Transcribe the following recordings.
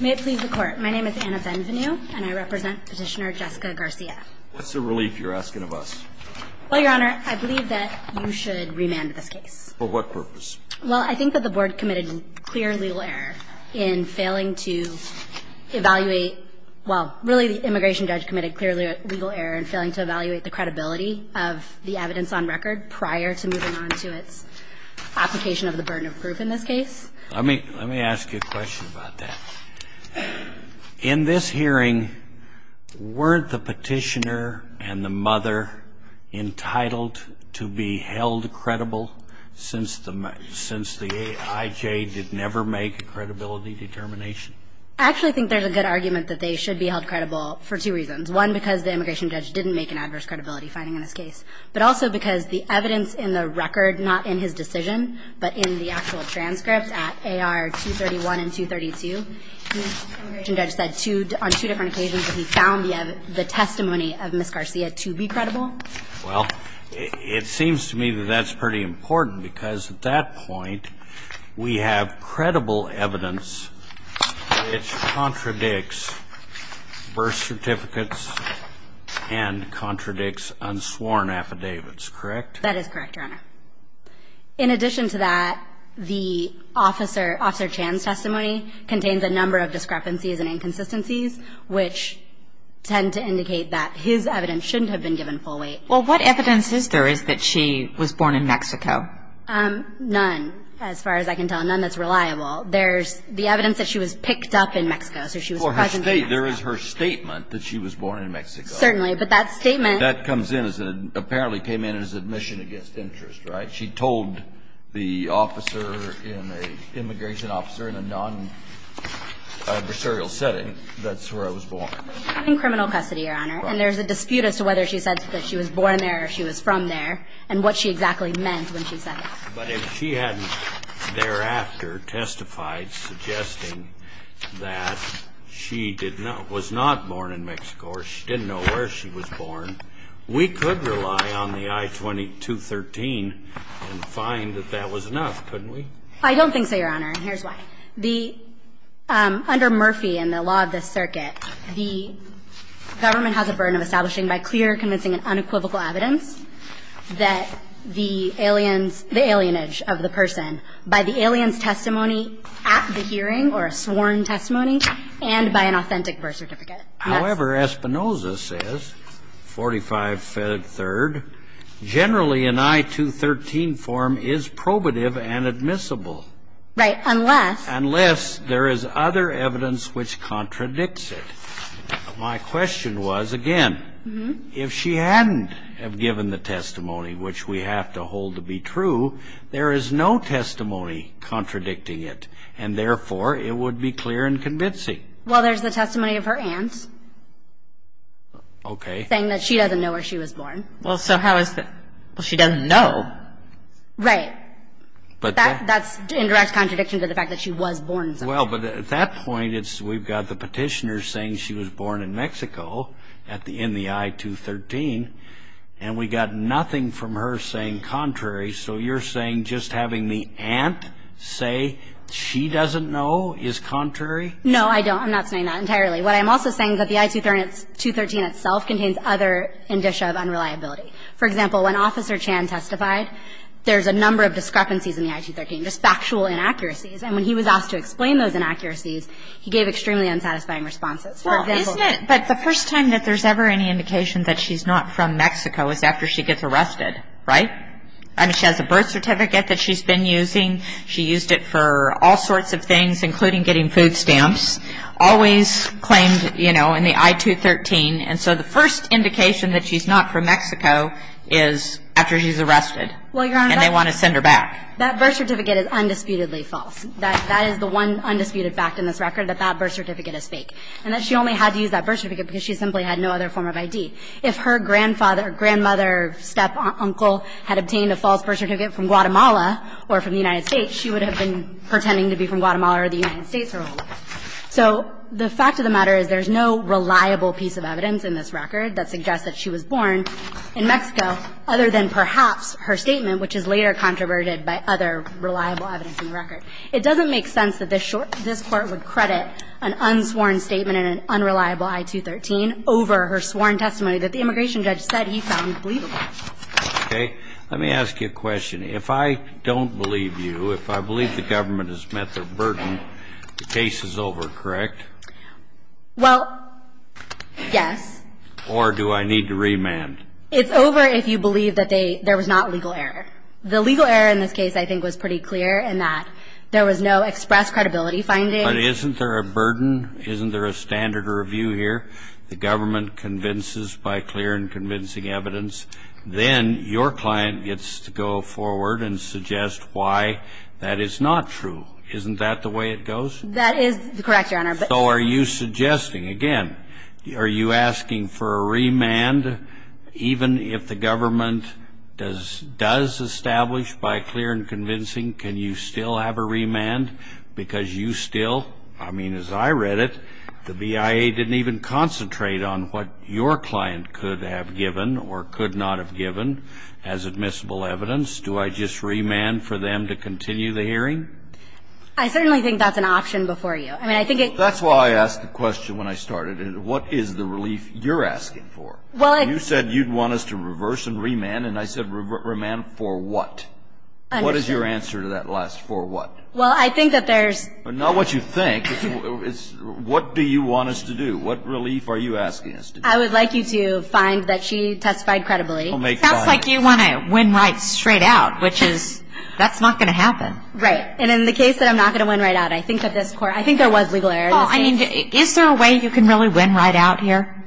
May it please the Court, my name is Anna Venvenue and I represent Petitioner Jessica Garcia. What's the relief you're asking of us? Well, Your Honor, I believe that you should remand this case. For what purpose? Well, I think that the Board committed clear legal error in failing to evaluate, well, really the Immigration Judge committed clear legal error in failing to evaluate the credibility of the evidence on record prior to moving on to its application of the burden of proof in this case. Let me ask you a question about that. In this hearing, weren't the Petitioner and the mother entitled to be held credible since the AIJ did never make a credibility determination? I actually think there's a good argument that they should be held credible for two reasons. One, because the Immigration Judge didn't make an adverse credibility finding in this case, but also because the evidence in the record, not in his decision, but in the actual transcript at AR 231 and 232, the Immigration Judge said on two different occasions that he found the testimony of Ms. Garcia to be credible. Well, it seems to me that that's pretty important because at that point, we have credible evidence which contradicts birth certificates and contradicts unsworn affidavits, correct? That is correct, Your Honor. In addition to that, the Officer Chan's testimony contains a number of discrepancies and inconsistencies which tend to indicate that his evidence shouldn't have been given full weight. Well, what evidence is there is that she was born in Mexico? None, as far as I can tell. None that's reliable. There's the evidence that she was picked up in Mexico, so she was present in Mexico. Well, there is her statement that she was born in Mexico. Certainly. But that statement — That comes in as a — apparently came in as admission against interest, right? She told the officer in a — immigration officer in a non-adversarial setting that's where I was born. In criminal custody, Your Honor. Right. And there's a dispute as to whether she said that she was born there or she was from there and what she exactly meant when she said it. But if she hadn't thereafter testified suggesting that she did not — was not born in Mexico or she didn't know where she was born, we could rely on the I-2213 and find that that was enough, couldn't we? I don't think so, Your Honor, and here's why. The — under Murphy and the law of the circuit, the government has a burden of establishing by clear, convincing and unequivocal evidence that the aliens — the alienage of the person by the alien's testimony at the hearing or a sworn testimony and by an authentic birth certificate. However, Espinoza says, 45-3rd, generally an I-213 form is probative and admissible. Right. Unless — Unless there is other evidence which contradicts it. My question was, again, if she hadn't have given the testimony, which we have to hold to be true, there is no testimony contradicting it, and therefore, it would be clear and convincing. Well, there's the testimony of her aunt. Okay. Saying that she doesn't know where she was born. Well, so how is that — well, she doesn't know. Right. But that — that's an indirect contradiction to the fact that she was born somewhere. Well, but at that point, it's — we've got the petitioner saying she was born in Mexico at the — in the I-213, and we got nothing from her saying contrary. So you're saying just having the aunt say she doesn't know is contrary? No, I don't. I'm not saying that entirely. What I'm also saying is that the I-213 itself contains other indicia of unreliability. For example, when Officer Chan testified, there's a number of discrepancies in the I-213, just factual inaccuracies. And when he was asked to explain those inaccuracies, he gave extremely unsatisfying responses. For example — Well, isn't it — but the first time that there's ever any indication that she's not from Mexico is after she gets arrested. Right? I mean, she has a birth certificate that she's been using. She used it for all sorts of things, including getting food stamps. Always claimed, you know, in the I-213. And so the first indication that she's not from Mexico is after she's arrested. Well, Your Honor — And they want to send her back. That birth certificate is undisputedly false. That is the one undisputed fact in this record, that that birth certificate is fake. And that she only had to use that birth certificate because she simply had no other form of I.D. If her grandfather, grandmother, step-uncle had obtained a false birth certificate from Guatemala or from the United States, she would have been pretending to be from Guatemala or the United States her whole life. So the fact of the matter is there's no reliable piece of evidence in this record that suggests that she was born in Mexico other than perhaps her statement, which is later controverted by other reliable evidence in the record. It doesn't make sense that this Court would credit an unsworn statement in an unreliable I-213 over her sworn testimony that the immigration judge said he found believable. Okay. Let me ask you a question. If I don't believe you, if I believe the government has met their burden, the case is over, correct? Well, yes. Or do I need to remand? It's over if you believe that there was not legal error. The legal error in this case I think was pretty clear in that there was no expressed credibility finding. But isn't there a burden? Isn't there a standard of review here? The government convinces by clear and convincing evidence. Then your client gets to go forward and suggest why that is not true. Isn't that the way it goes? That is correct, Your Honor. So are you suggesting, again, are you asking for a remand, even if the government does establish by clear and convincing, can you still have a remand? Because you still, I mean, as I read it, the BIA didn't even concentrate on what your client could have given or could not have given as admissible evidence. Do I just remand for them to continue the hearing? I certainly think that's an option before you. That's why I asked the question when I started it, what is the relief you're asking for? You said you'd want us to reverse and remand, and I said remand for what? What is your answer to that last for what? Well, I think that there's – Not what you think. It's what do you want us to do? What relief are you asking us to do? I would like you to find that she testified credibly. It sounds like you want to win right straight out, which is, that's not going to happen. Right. And in the case that I'm not going to win right out, I think that this court – I think there was legal error in the case. Is there a way you can really win right out here?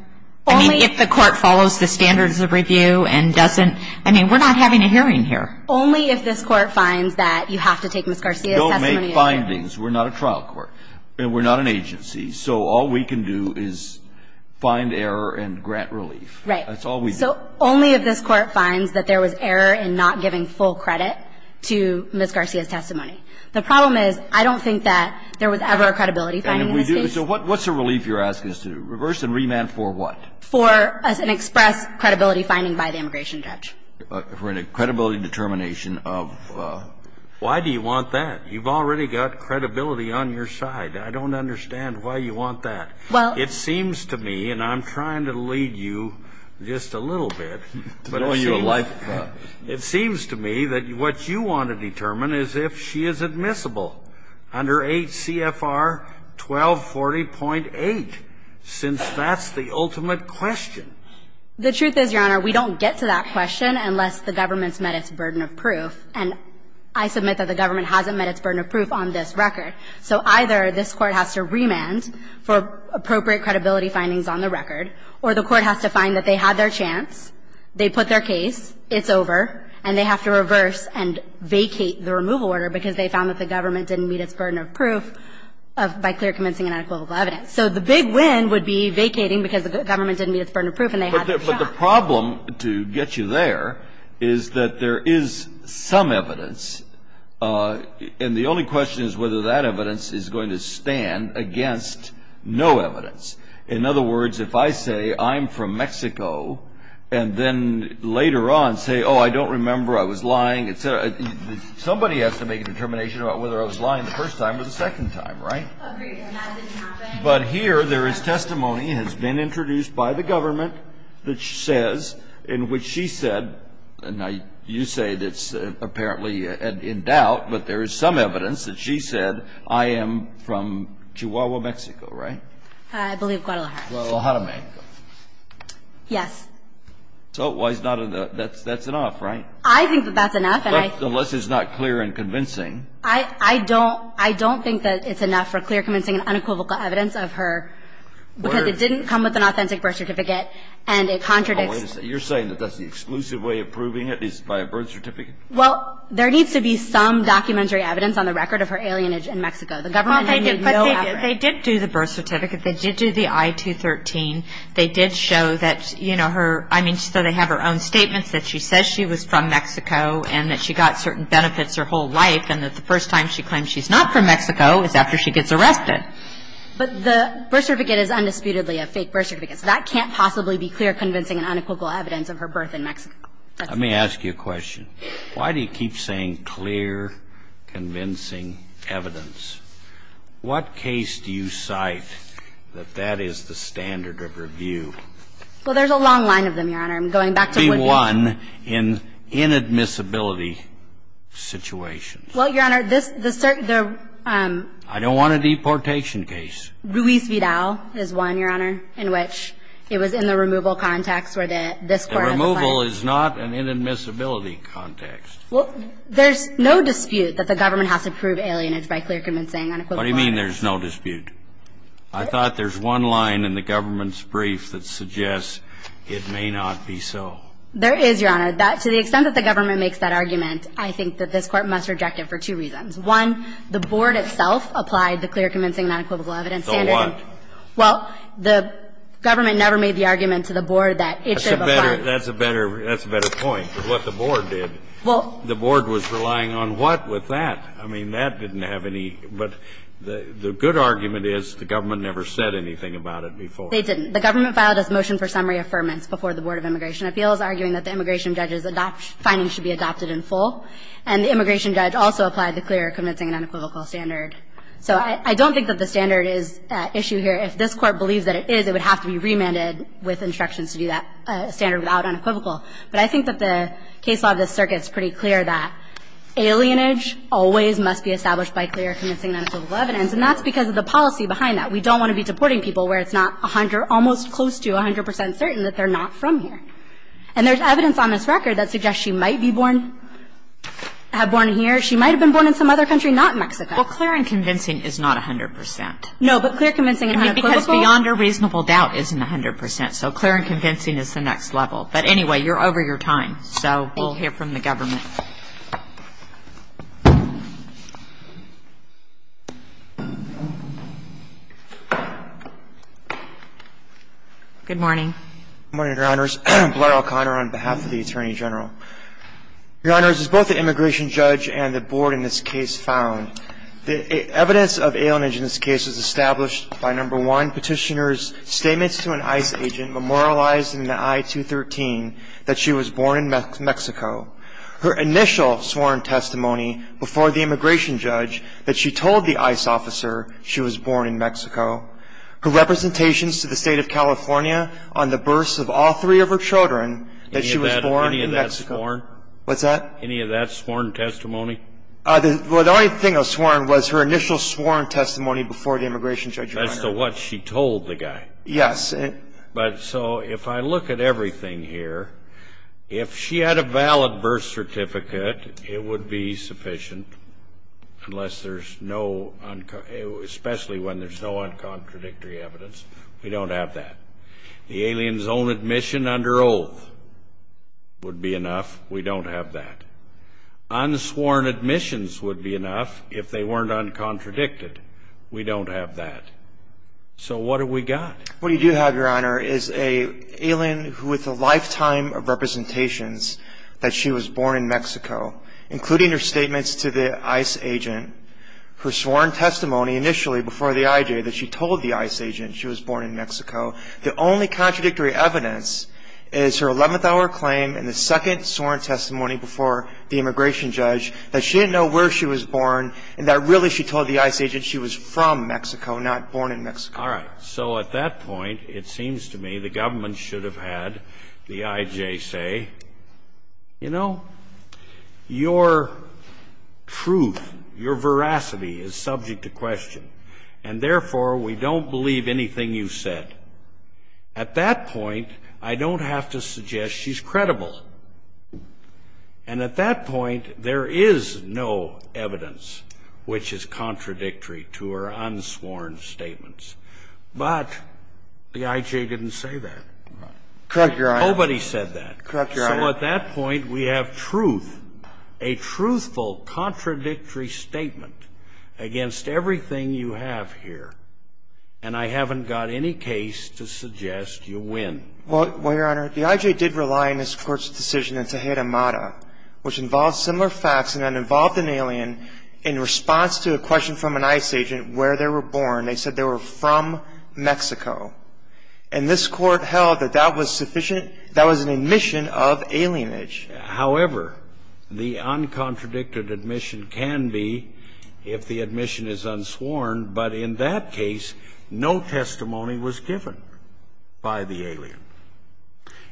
Only – I mean, if the court follows the standards of review and doesn't – I mean, we're not having a hearing here. Only if this court finds that you have to take Ms. Garcia's testimony – We don't make findings. We're not a trial court, and we're not an agency, so all we can do is find error and grant relief. Right. That's all we do. So only if this court finds that there was error in not giving full credit to Ms. Garcia's testimony. The problem is I don't think that there was ever a credibility finding in this case. And if we do – so what's the relief you're asking us to do? Reverse and remand for what? For an express credibility finding by the immigration judge. For a credibility determination of – Why do you want that? You've already got credibility on your side. I don't understand why you want that. Well – It seems to me, and I'm trying to lead you just a little bit, but it seems – To blow your life apart. It seems to me that what you want to determine is if she is admissible under 8 CFR 1240.8, since that's the ultimate question. The truth is, Your Honor, we don't get to that question unless the government's met its burden of proof. And I submit that the government hasn't met its burden of proof on this record. So either this Court has to remand for appropriate credibility findings on the record or the Court has to find that they had their chance, they put their case, it's over, and they have to reverse and vacate the removal order because they found that the government didn't meet its burden of proof by clear, convincing, and unequivocal evidence. So the big win would be vacating because the government didn't meet its burden of proof and they had their shot. But the problem, to get you there, is that there is some evidence, and the only question is whether that evidence is going to stand against no evidence. In other words, if I say I'm from Mexico and then later on say, oh, I don't remember, I was lying, et cetera, somebody has to make a determination about whether I was lying the first time or the second time, right? Agreed, and that didn't happen. But here there is testimony that has been introduced by the government that says, in which she said, and you say it's apparently in doubt, but there is some evidence that she said, I am from Chihuahua, Mexico, right? I believe Guadalajara. Guadalajara. Yes. So that's enough, right? I think that that's enough. Unless it's not clear and convincing. I don't think that it's enough for clear, convincing, and unequivocal evidence of her because it didn't come with an authentic birth certificate and it contradicts the evidence. And that's the only way to say it. You're saying that that's the exclusive way of proving it is by a birth certificate? Well, there needs to be some documentary evidence on the record of her alienage in Mexico. The government would need no evidence. Well, they did. But they did do the birth certificate. They did do the I-213. They did show that, you know, her – I mean, so they have her own statements that she says she was from Mexico and that she got certain benefits her whole life and that the first time she claims she's not from Mexico is after she gets arrested. But the birth certificate is undisputedly a fake birth certificate. So that can't possibly be clear, convincing, and unequivocal evidence of her birth in Mexico. Let me ask you a question. Why do you keep saying clear, convincing evidence? What case do you cite that that is the standard of review? Well, there's a long line of them, Your Honor. I'm going back to Woodbridge. The one in inadmissibility situations. Well, Your Honor, this – the – I don't want a deportation case. Ruiz-Vidal is one, Your Honor, in which it was in the removal context where this court has a fine. The removal is not an inadmissibility context. Well, there's no dispute that the government has to prove alienage by clear, convincing, unequivocal evidence. What do you mean there's no dispute? I thought there's one line in the government's brief that suggests it may not be so. There is, Your Honor. That – to the extent that the government makes that argument, I think that this court must reject it for two reasons. One, the board itself applied the clear, convincing, unequivocal evidence standard. So what? Well, the government never made the argument to the board that it should have a fine. That's a better – that's a better point of what the board did. Well – The board was relying on what with that? I mean, that didn't have any – but the good argument is the government never said anything about it before. They didn't. The government filed its motion for summary affirmance before the Board of Immigration Appeals, arguing that the immigration judge's adopt – findings should be adopted in full. And the immigration judge also applied the clear, convincing, and unequivocal standard. So I don't think that the standard is at issue here. If this Court believes that it is, it would have to be remanded with instructions to do that standard without unequivocal. But I think that the case law of this circuit is pretty clear that alienage always must be established by clear, convincing, unequivocal evidence, and that's because of the policy behind that. We don't want to be deporting people where it's not almost close to 100 percent certain that they're not from here. And there's evidence on this record that suggests she might be born – have born here. She might have been born in some other country, not Mexico. Well, clear and convincing is not 100 percent. No, but clear, convincing and unequivocal? I mean, because beyond a reasonable doubt isn't 100 percent. So clear and convincing is the next level. But anyway, you're over your time, so we'll hear from the government. Good morning. Good morning, Your Honors. Blair O'Connor on behalf of the Attorney General. Your Honors, as both the immigration judge and the board in this case found, the evidence of alienage in this case was established by, number one, Petitioner's statements to an ICE agent memorialized in the I-213 that she was born in Mexico. Her initial sworn testimony before the immigration judge that she told the ICE officer she was born in Mexico. Her representations to the state of California on the births of all three of her children that she was born in Mexico. Any of that sworn? What's that? Any of that sworn testimony? The only thing that was sworn was her initial sworn testimony before the immigration judge. As to what she told the guy. Yes. But so if I look at everything here, if she had a valid birth certificate, it would be We don't have that. The alien's own admission under oath would be enough. We don't have that. Unsworn admissions would be enough if they weren't uncontradicted. We don't have that. So what do we got? What we do have, Your Honor, is an alien with a lifetime of representations that she was born in Mexico, including her statements to the ICE agent, her sworn testimony initially before the IJ that she told the ICE agent she was born in Mexico. The only contradictory evidence is her 11th hour claim and the second sworn testimony before the immigration judge that she didn't know where she was born and that really she told the ICE agent she was from Mexico, not born in Mexico. All right. So at that point, it seems to me the government should have had the IJ say, you know, your truth, your veracity is subject to question, and therefore we don't believe anything you said. At that point, I don't have to suggest she's credible. And at that point, there is no evidence which is contradictory to her unsworn statements. But the IJ didn't say that. Correct, Your Honor. Nobody said that. Correct, Your Honor. So at that point, we have truth, a truthful, contradictory statement against everything you have here. And I haven't got any case to suggest you win. Well, Your Honor, the IJ did rely on this Court's decision in Tejeda Mata, which involved similar facts and that involved an alien in response to a question from an ICE agent where they were born. They said they were from Mexico. And this Court held that that was sufficient. That was an admission of alienage. However, the uncontradicted admission can be if the admission is unsworn, but in that case, no testimony was given by the alien.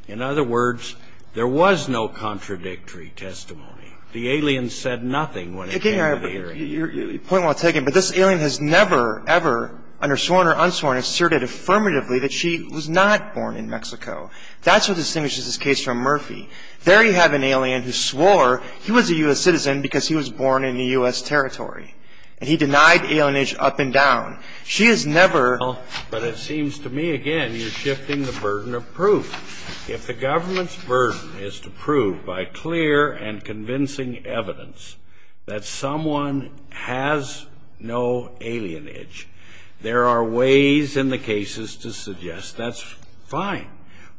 In other words, there was no contradictory testimony. The alien said nothing when it came to the hearing. Point well taken. But this alien has never, ever, under sworn or unsworn, asserted affirmatively that she was not born in Mexico. That's what distinguishes this case from Murphy. There you have an alien who swore he was a U.S. citizen because he was born in the U.S. territory. And he denied alienage up and down. She has never. But it seems to me, again, you're shifting the burden of proof. If the government's burden is to prove by clear and convincing evidence that someone has no alienage, there are ways in the cases to suggest that's fine.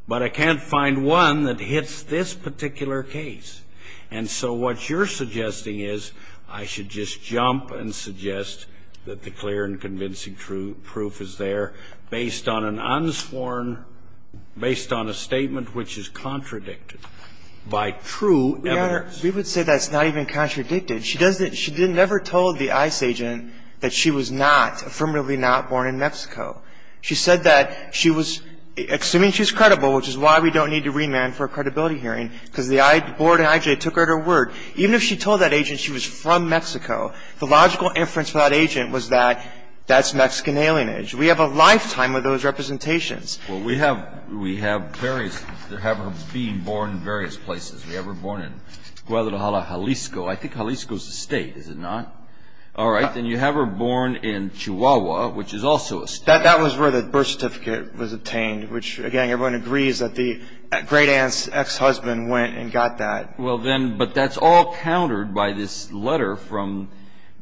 But I can't find one that hits this particular case. And so what you're suggesting is I should just jump and suggest that the clear and convincing proof is there based on an unsworn, based on a statement which is contradicted by true evidence. We would say that's not even contradicted. She doesn't – she never told the ICE agent that she was not, affirmatively not, born in Mexico. She said that she was, assuming she's credible, which is why we don't need to remand for a credibility hearing, because the board at IJ took her at her word. Even if she told that agent she was from Mexico, the logical inference for that agent was that that's Mexican alienage. We have a lifetime of those representations. Well, we have various – we have her being born in various places. We have her born in Guadalajara, Jalisco. I think Jalisco's a state, is it not? All right. Then you have her born in Chihuahua, which is also a state. That was where the birth certificate was obtained, which, again, everyone agrees that the great aunt's ex-husband went and got that. Well, then – but that's all countered by this letter from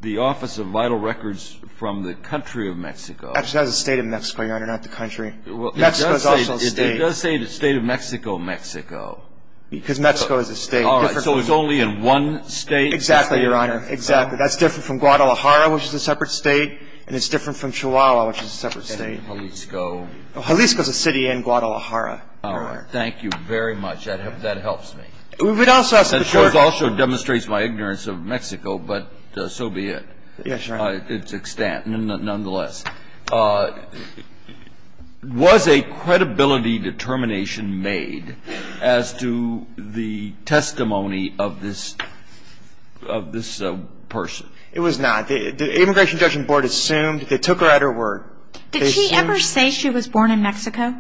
the Office of Vital Records from the country of Mexico. Actually, that was the state of Mexico, Your Honor, not the country. Mexico's also a state. It does say the state of Mexico, Mexico. Because Mexico is a state. All right. So it's only in one state? Exactly, Your Honor. Exactly. That's different from Guadalajara, which is a separate state, and it's different from Chihuahua, which is a separate state. And Jalisco. Jalisco's a city in Guadalajara, Your Honor. All right. Thank you very much. That helps me. We would also ask the court – That, of course, also demonstrates my ignorance of Mexico, but so be it. Yes, Your Honor. It's extant nonetheless. Was a credibility determination made as to the testimony of this person? It was not. The Immigration Judgment Board assumed – they took her at her word. Did she ever say she was born in Mexico?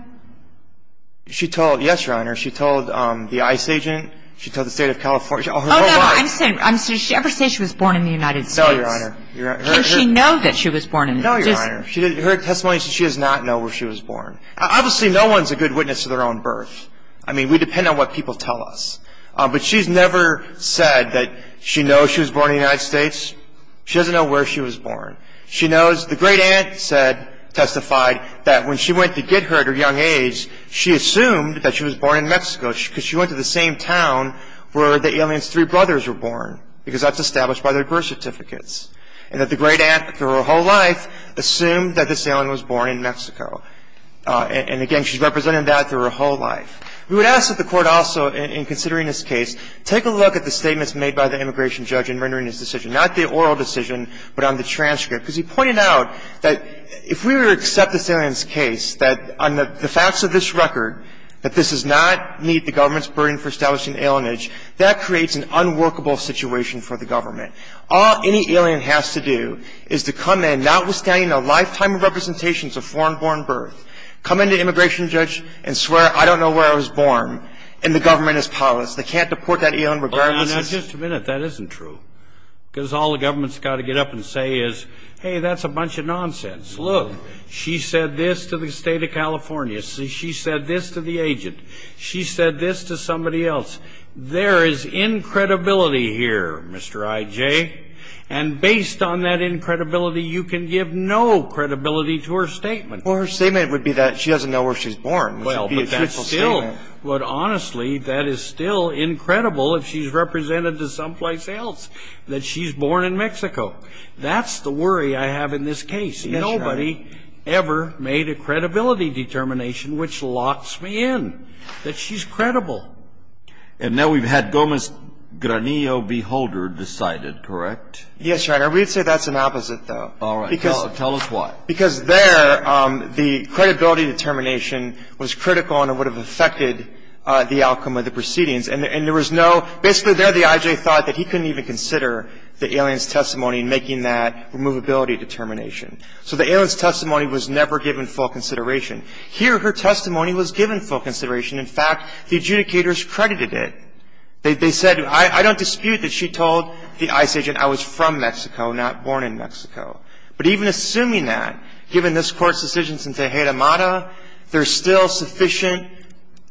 She told – yes, Your Honor. She told the ICE agent. She told the State of California. Oh, no. I'm saying – did she ever say she was born in the United States? No, Your Honor. Can she know that she was born in the United States? No, Your Honor. Her testimony says she does not know where she was born. Obviously, no one's a good witness to their own birth. I mean, we depend on what people tell us. But she's never said that she knows she was born in the United States. She doesn't know where she was born. She knows – the great aunt testified that when she went to get her at her young age, she assumed that she was born in Mexico because she went to the same town where the alien's three brothers were born because that's established by their birth certificates and that the great aunt, through her whole life, assumed that this alien was born in Mexico. And, again, she's represented that through her whole life. We would ask that the Court also, in considering this case, take a look at the statements made by the immigration judge in rendering this decision, not the oral decision, but on the transcript, because he pointed out that if we were to accept this alien's case, that on the facts of this record, that this does not meet the government's burden for establishing alienage, that creates an unworkable situation for the government. All any alien has to do is to come in, notwithstanding a lifetime of representations of foreign-born birth, come in to the immigration judge and swear, I don't know where I was born, and the government is powerless. They can't deport that alien regardless. Well, now, just a minute. That isn't true. Because all the government's got to get up and say is, hey, that's a bunch of nonsense. Look. She said this to the State of California. She said this to the agent. She said this to somebody else. There is incredibility here, Mr. I.J., and based on that incredibility, you can give no credibility to her statement. Well, her statement would be that she doesn't know where she's born. Well, but that's a statement. But, honestly, that is still incredible if she's represented to someplace else, that she's born in Mexico. That's the worry I have in this case. Yes, Your Honor. Nobody ever made a credibility determination which locks me in, that she's credible. And now we've had Gomez-Granillo-Beholder decided, correct? Yes, Your Honor. We'd say that's an opposite, though. All right. Tell us why. Because there, the credibility determination was critical and it would have affected the outcome of the proceedings. And there was no – basically, there the I.J. thought that he couldn't even consider the alien's testimony in making that removability determination. So the alien's testimony was never given full consideration. Here, her testimony was given full consideration. In fact, the adjudicators credited it. They said, I don't dispute that she told the ICE agent I was from Mexico, not born in Mexico. But even assuming that, given this Court's decisions in Tejeda-Mata, there's still sufficient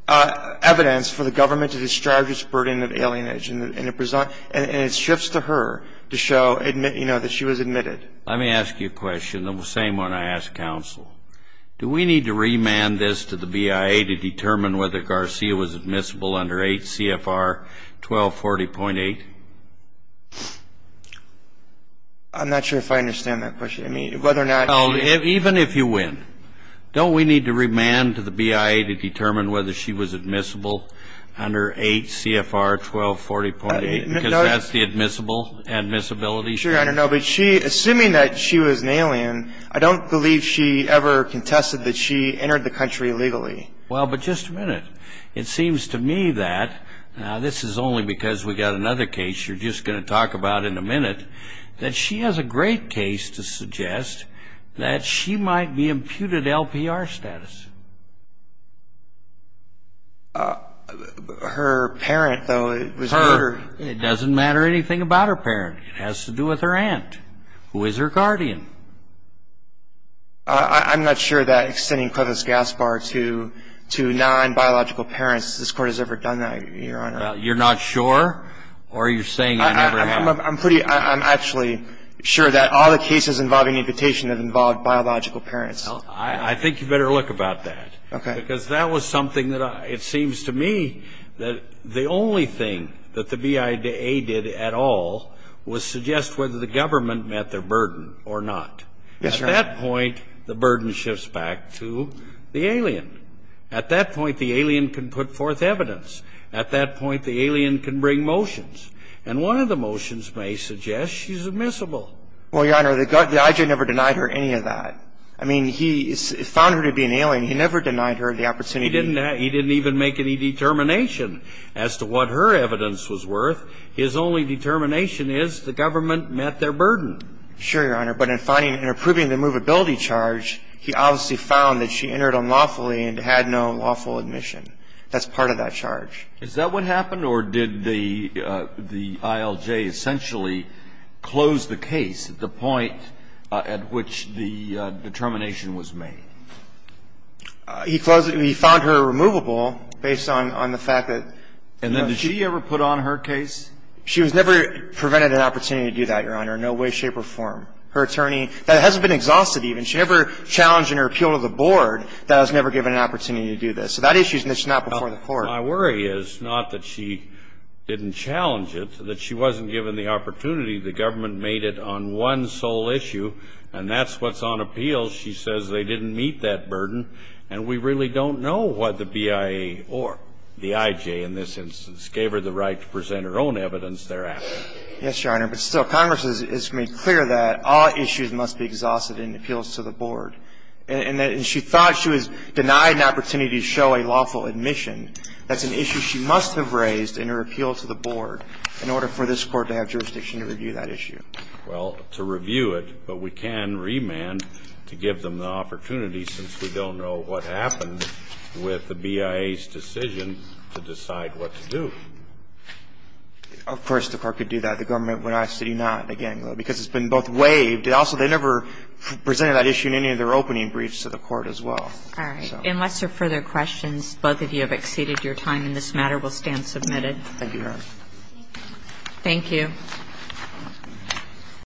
evidence for the government to describe this burden of alienage. And it shifts to her to show, you know, that she was admitted. Let me ask you a question, the same one I ask counsel. Do we need to remand this to the BIA to determine whether Garcia was admissible under H.C.F.R. 1240.8? I'm not sure if I understand that question. I mean, whether or not – Even if you win. Don't we need to remand to the BIA to determine whether she was admissible under H.C.F.R. 1240.8? Because that's the admissible, admissibility standard. Sure, Your Honor. No, but she – assuming that she was an alien, I don't believe she ever contested that she entered the country illegally. Well, but just a minute. It seems to me that – now, this is only because we've got another case you're just going to talk about in a minute – that she has a great case to suggest that she might be imputed LPR status. Her parent, though, was murdered. Her – it doesn't matter anything about her parent. It has to do with her aunt, who is her guardian. I'm not sure that extending Clevis Gaspar to – to non-biological parents, this Court has ever done that, Your Honor. You're not sure? Or are you saying you never have? I'm pretty – I'm actually sure that all the cases involving imputation have involved biological parents. Well, I think you better look about that. Okay. Because that was something that – it seems to me that the only thing that the BIA did at all was suggest whether the government met their burden or not. Yes, Your Honor. At that point, the burden shifts back to the alien. At that point, the alien can put forth evidence. At that point, the alien can bring motions. And one of the motions may suggest she's admissible. Well, Your Honor, the IJA never denied her any of that. I mean, he found her to be an alien. He never denied her the opportunity. He didn't even make any determination as to what her evidence was worth. His only determination is the government met their burden. Sure, Your Honor. But in finding and approving the movability charge, he obviously found that she entered unlawfully and had no lawful admission. That's part of that charge. Is that what happened? Or did the ILJ essentially close the case at the point at which the determination was made? He closed it. He found her removable based on the fact that she never put on her case. She was never prevented an opportunity to do that, Your Honor. No way, shape, or form. Her attorney – that hasn't been exhausted even. She never challenged in her appeal to the board that I was never given an opportunity to do this. So that issue is not before the Court. My worry is not that she didn't challenge it, that she wasn't given the opportunity. The government made it on one sole issue, and that's what's on appeal. She says they didn't meet that burden, and we really don't know what the BIA or the IJ in this instance gave her the right to present her own evidence thereafter. Yes, Your Honor. But still, Congress has made clear that all issues must be exhausted in appeals to the board. And she thought she was denied an opportunity to show a lawful admission. That's an issue she must have raised in her appeal to the board in order for this Court to have jurisdiction to review that issue. Well, to review it, but we can remand to give them the opportunity since we don't know what happened with the BIA's decision to decide what to do. Of course the Court could do that. The government would ask that he not, again, because it's been both waived. And also they never presented that issue in any of their opening briefs to the Court as well. All right. Unless there are further questions, both of you have exceeded your time, and this matter will stand submitted. Thank you, Your Honor. Thank you.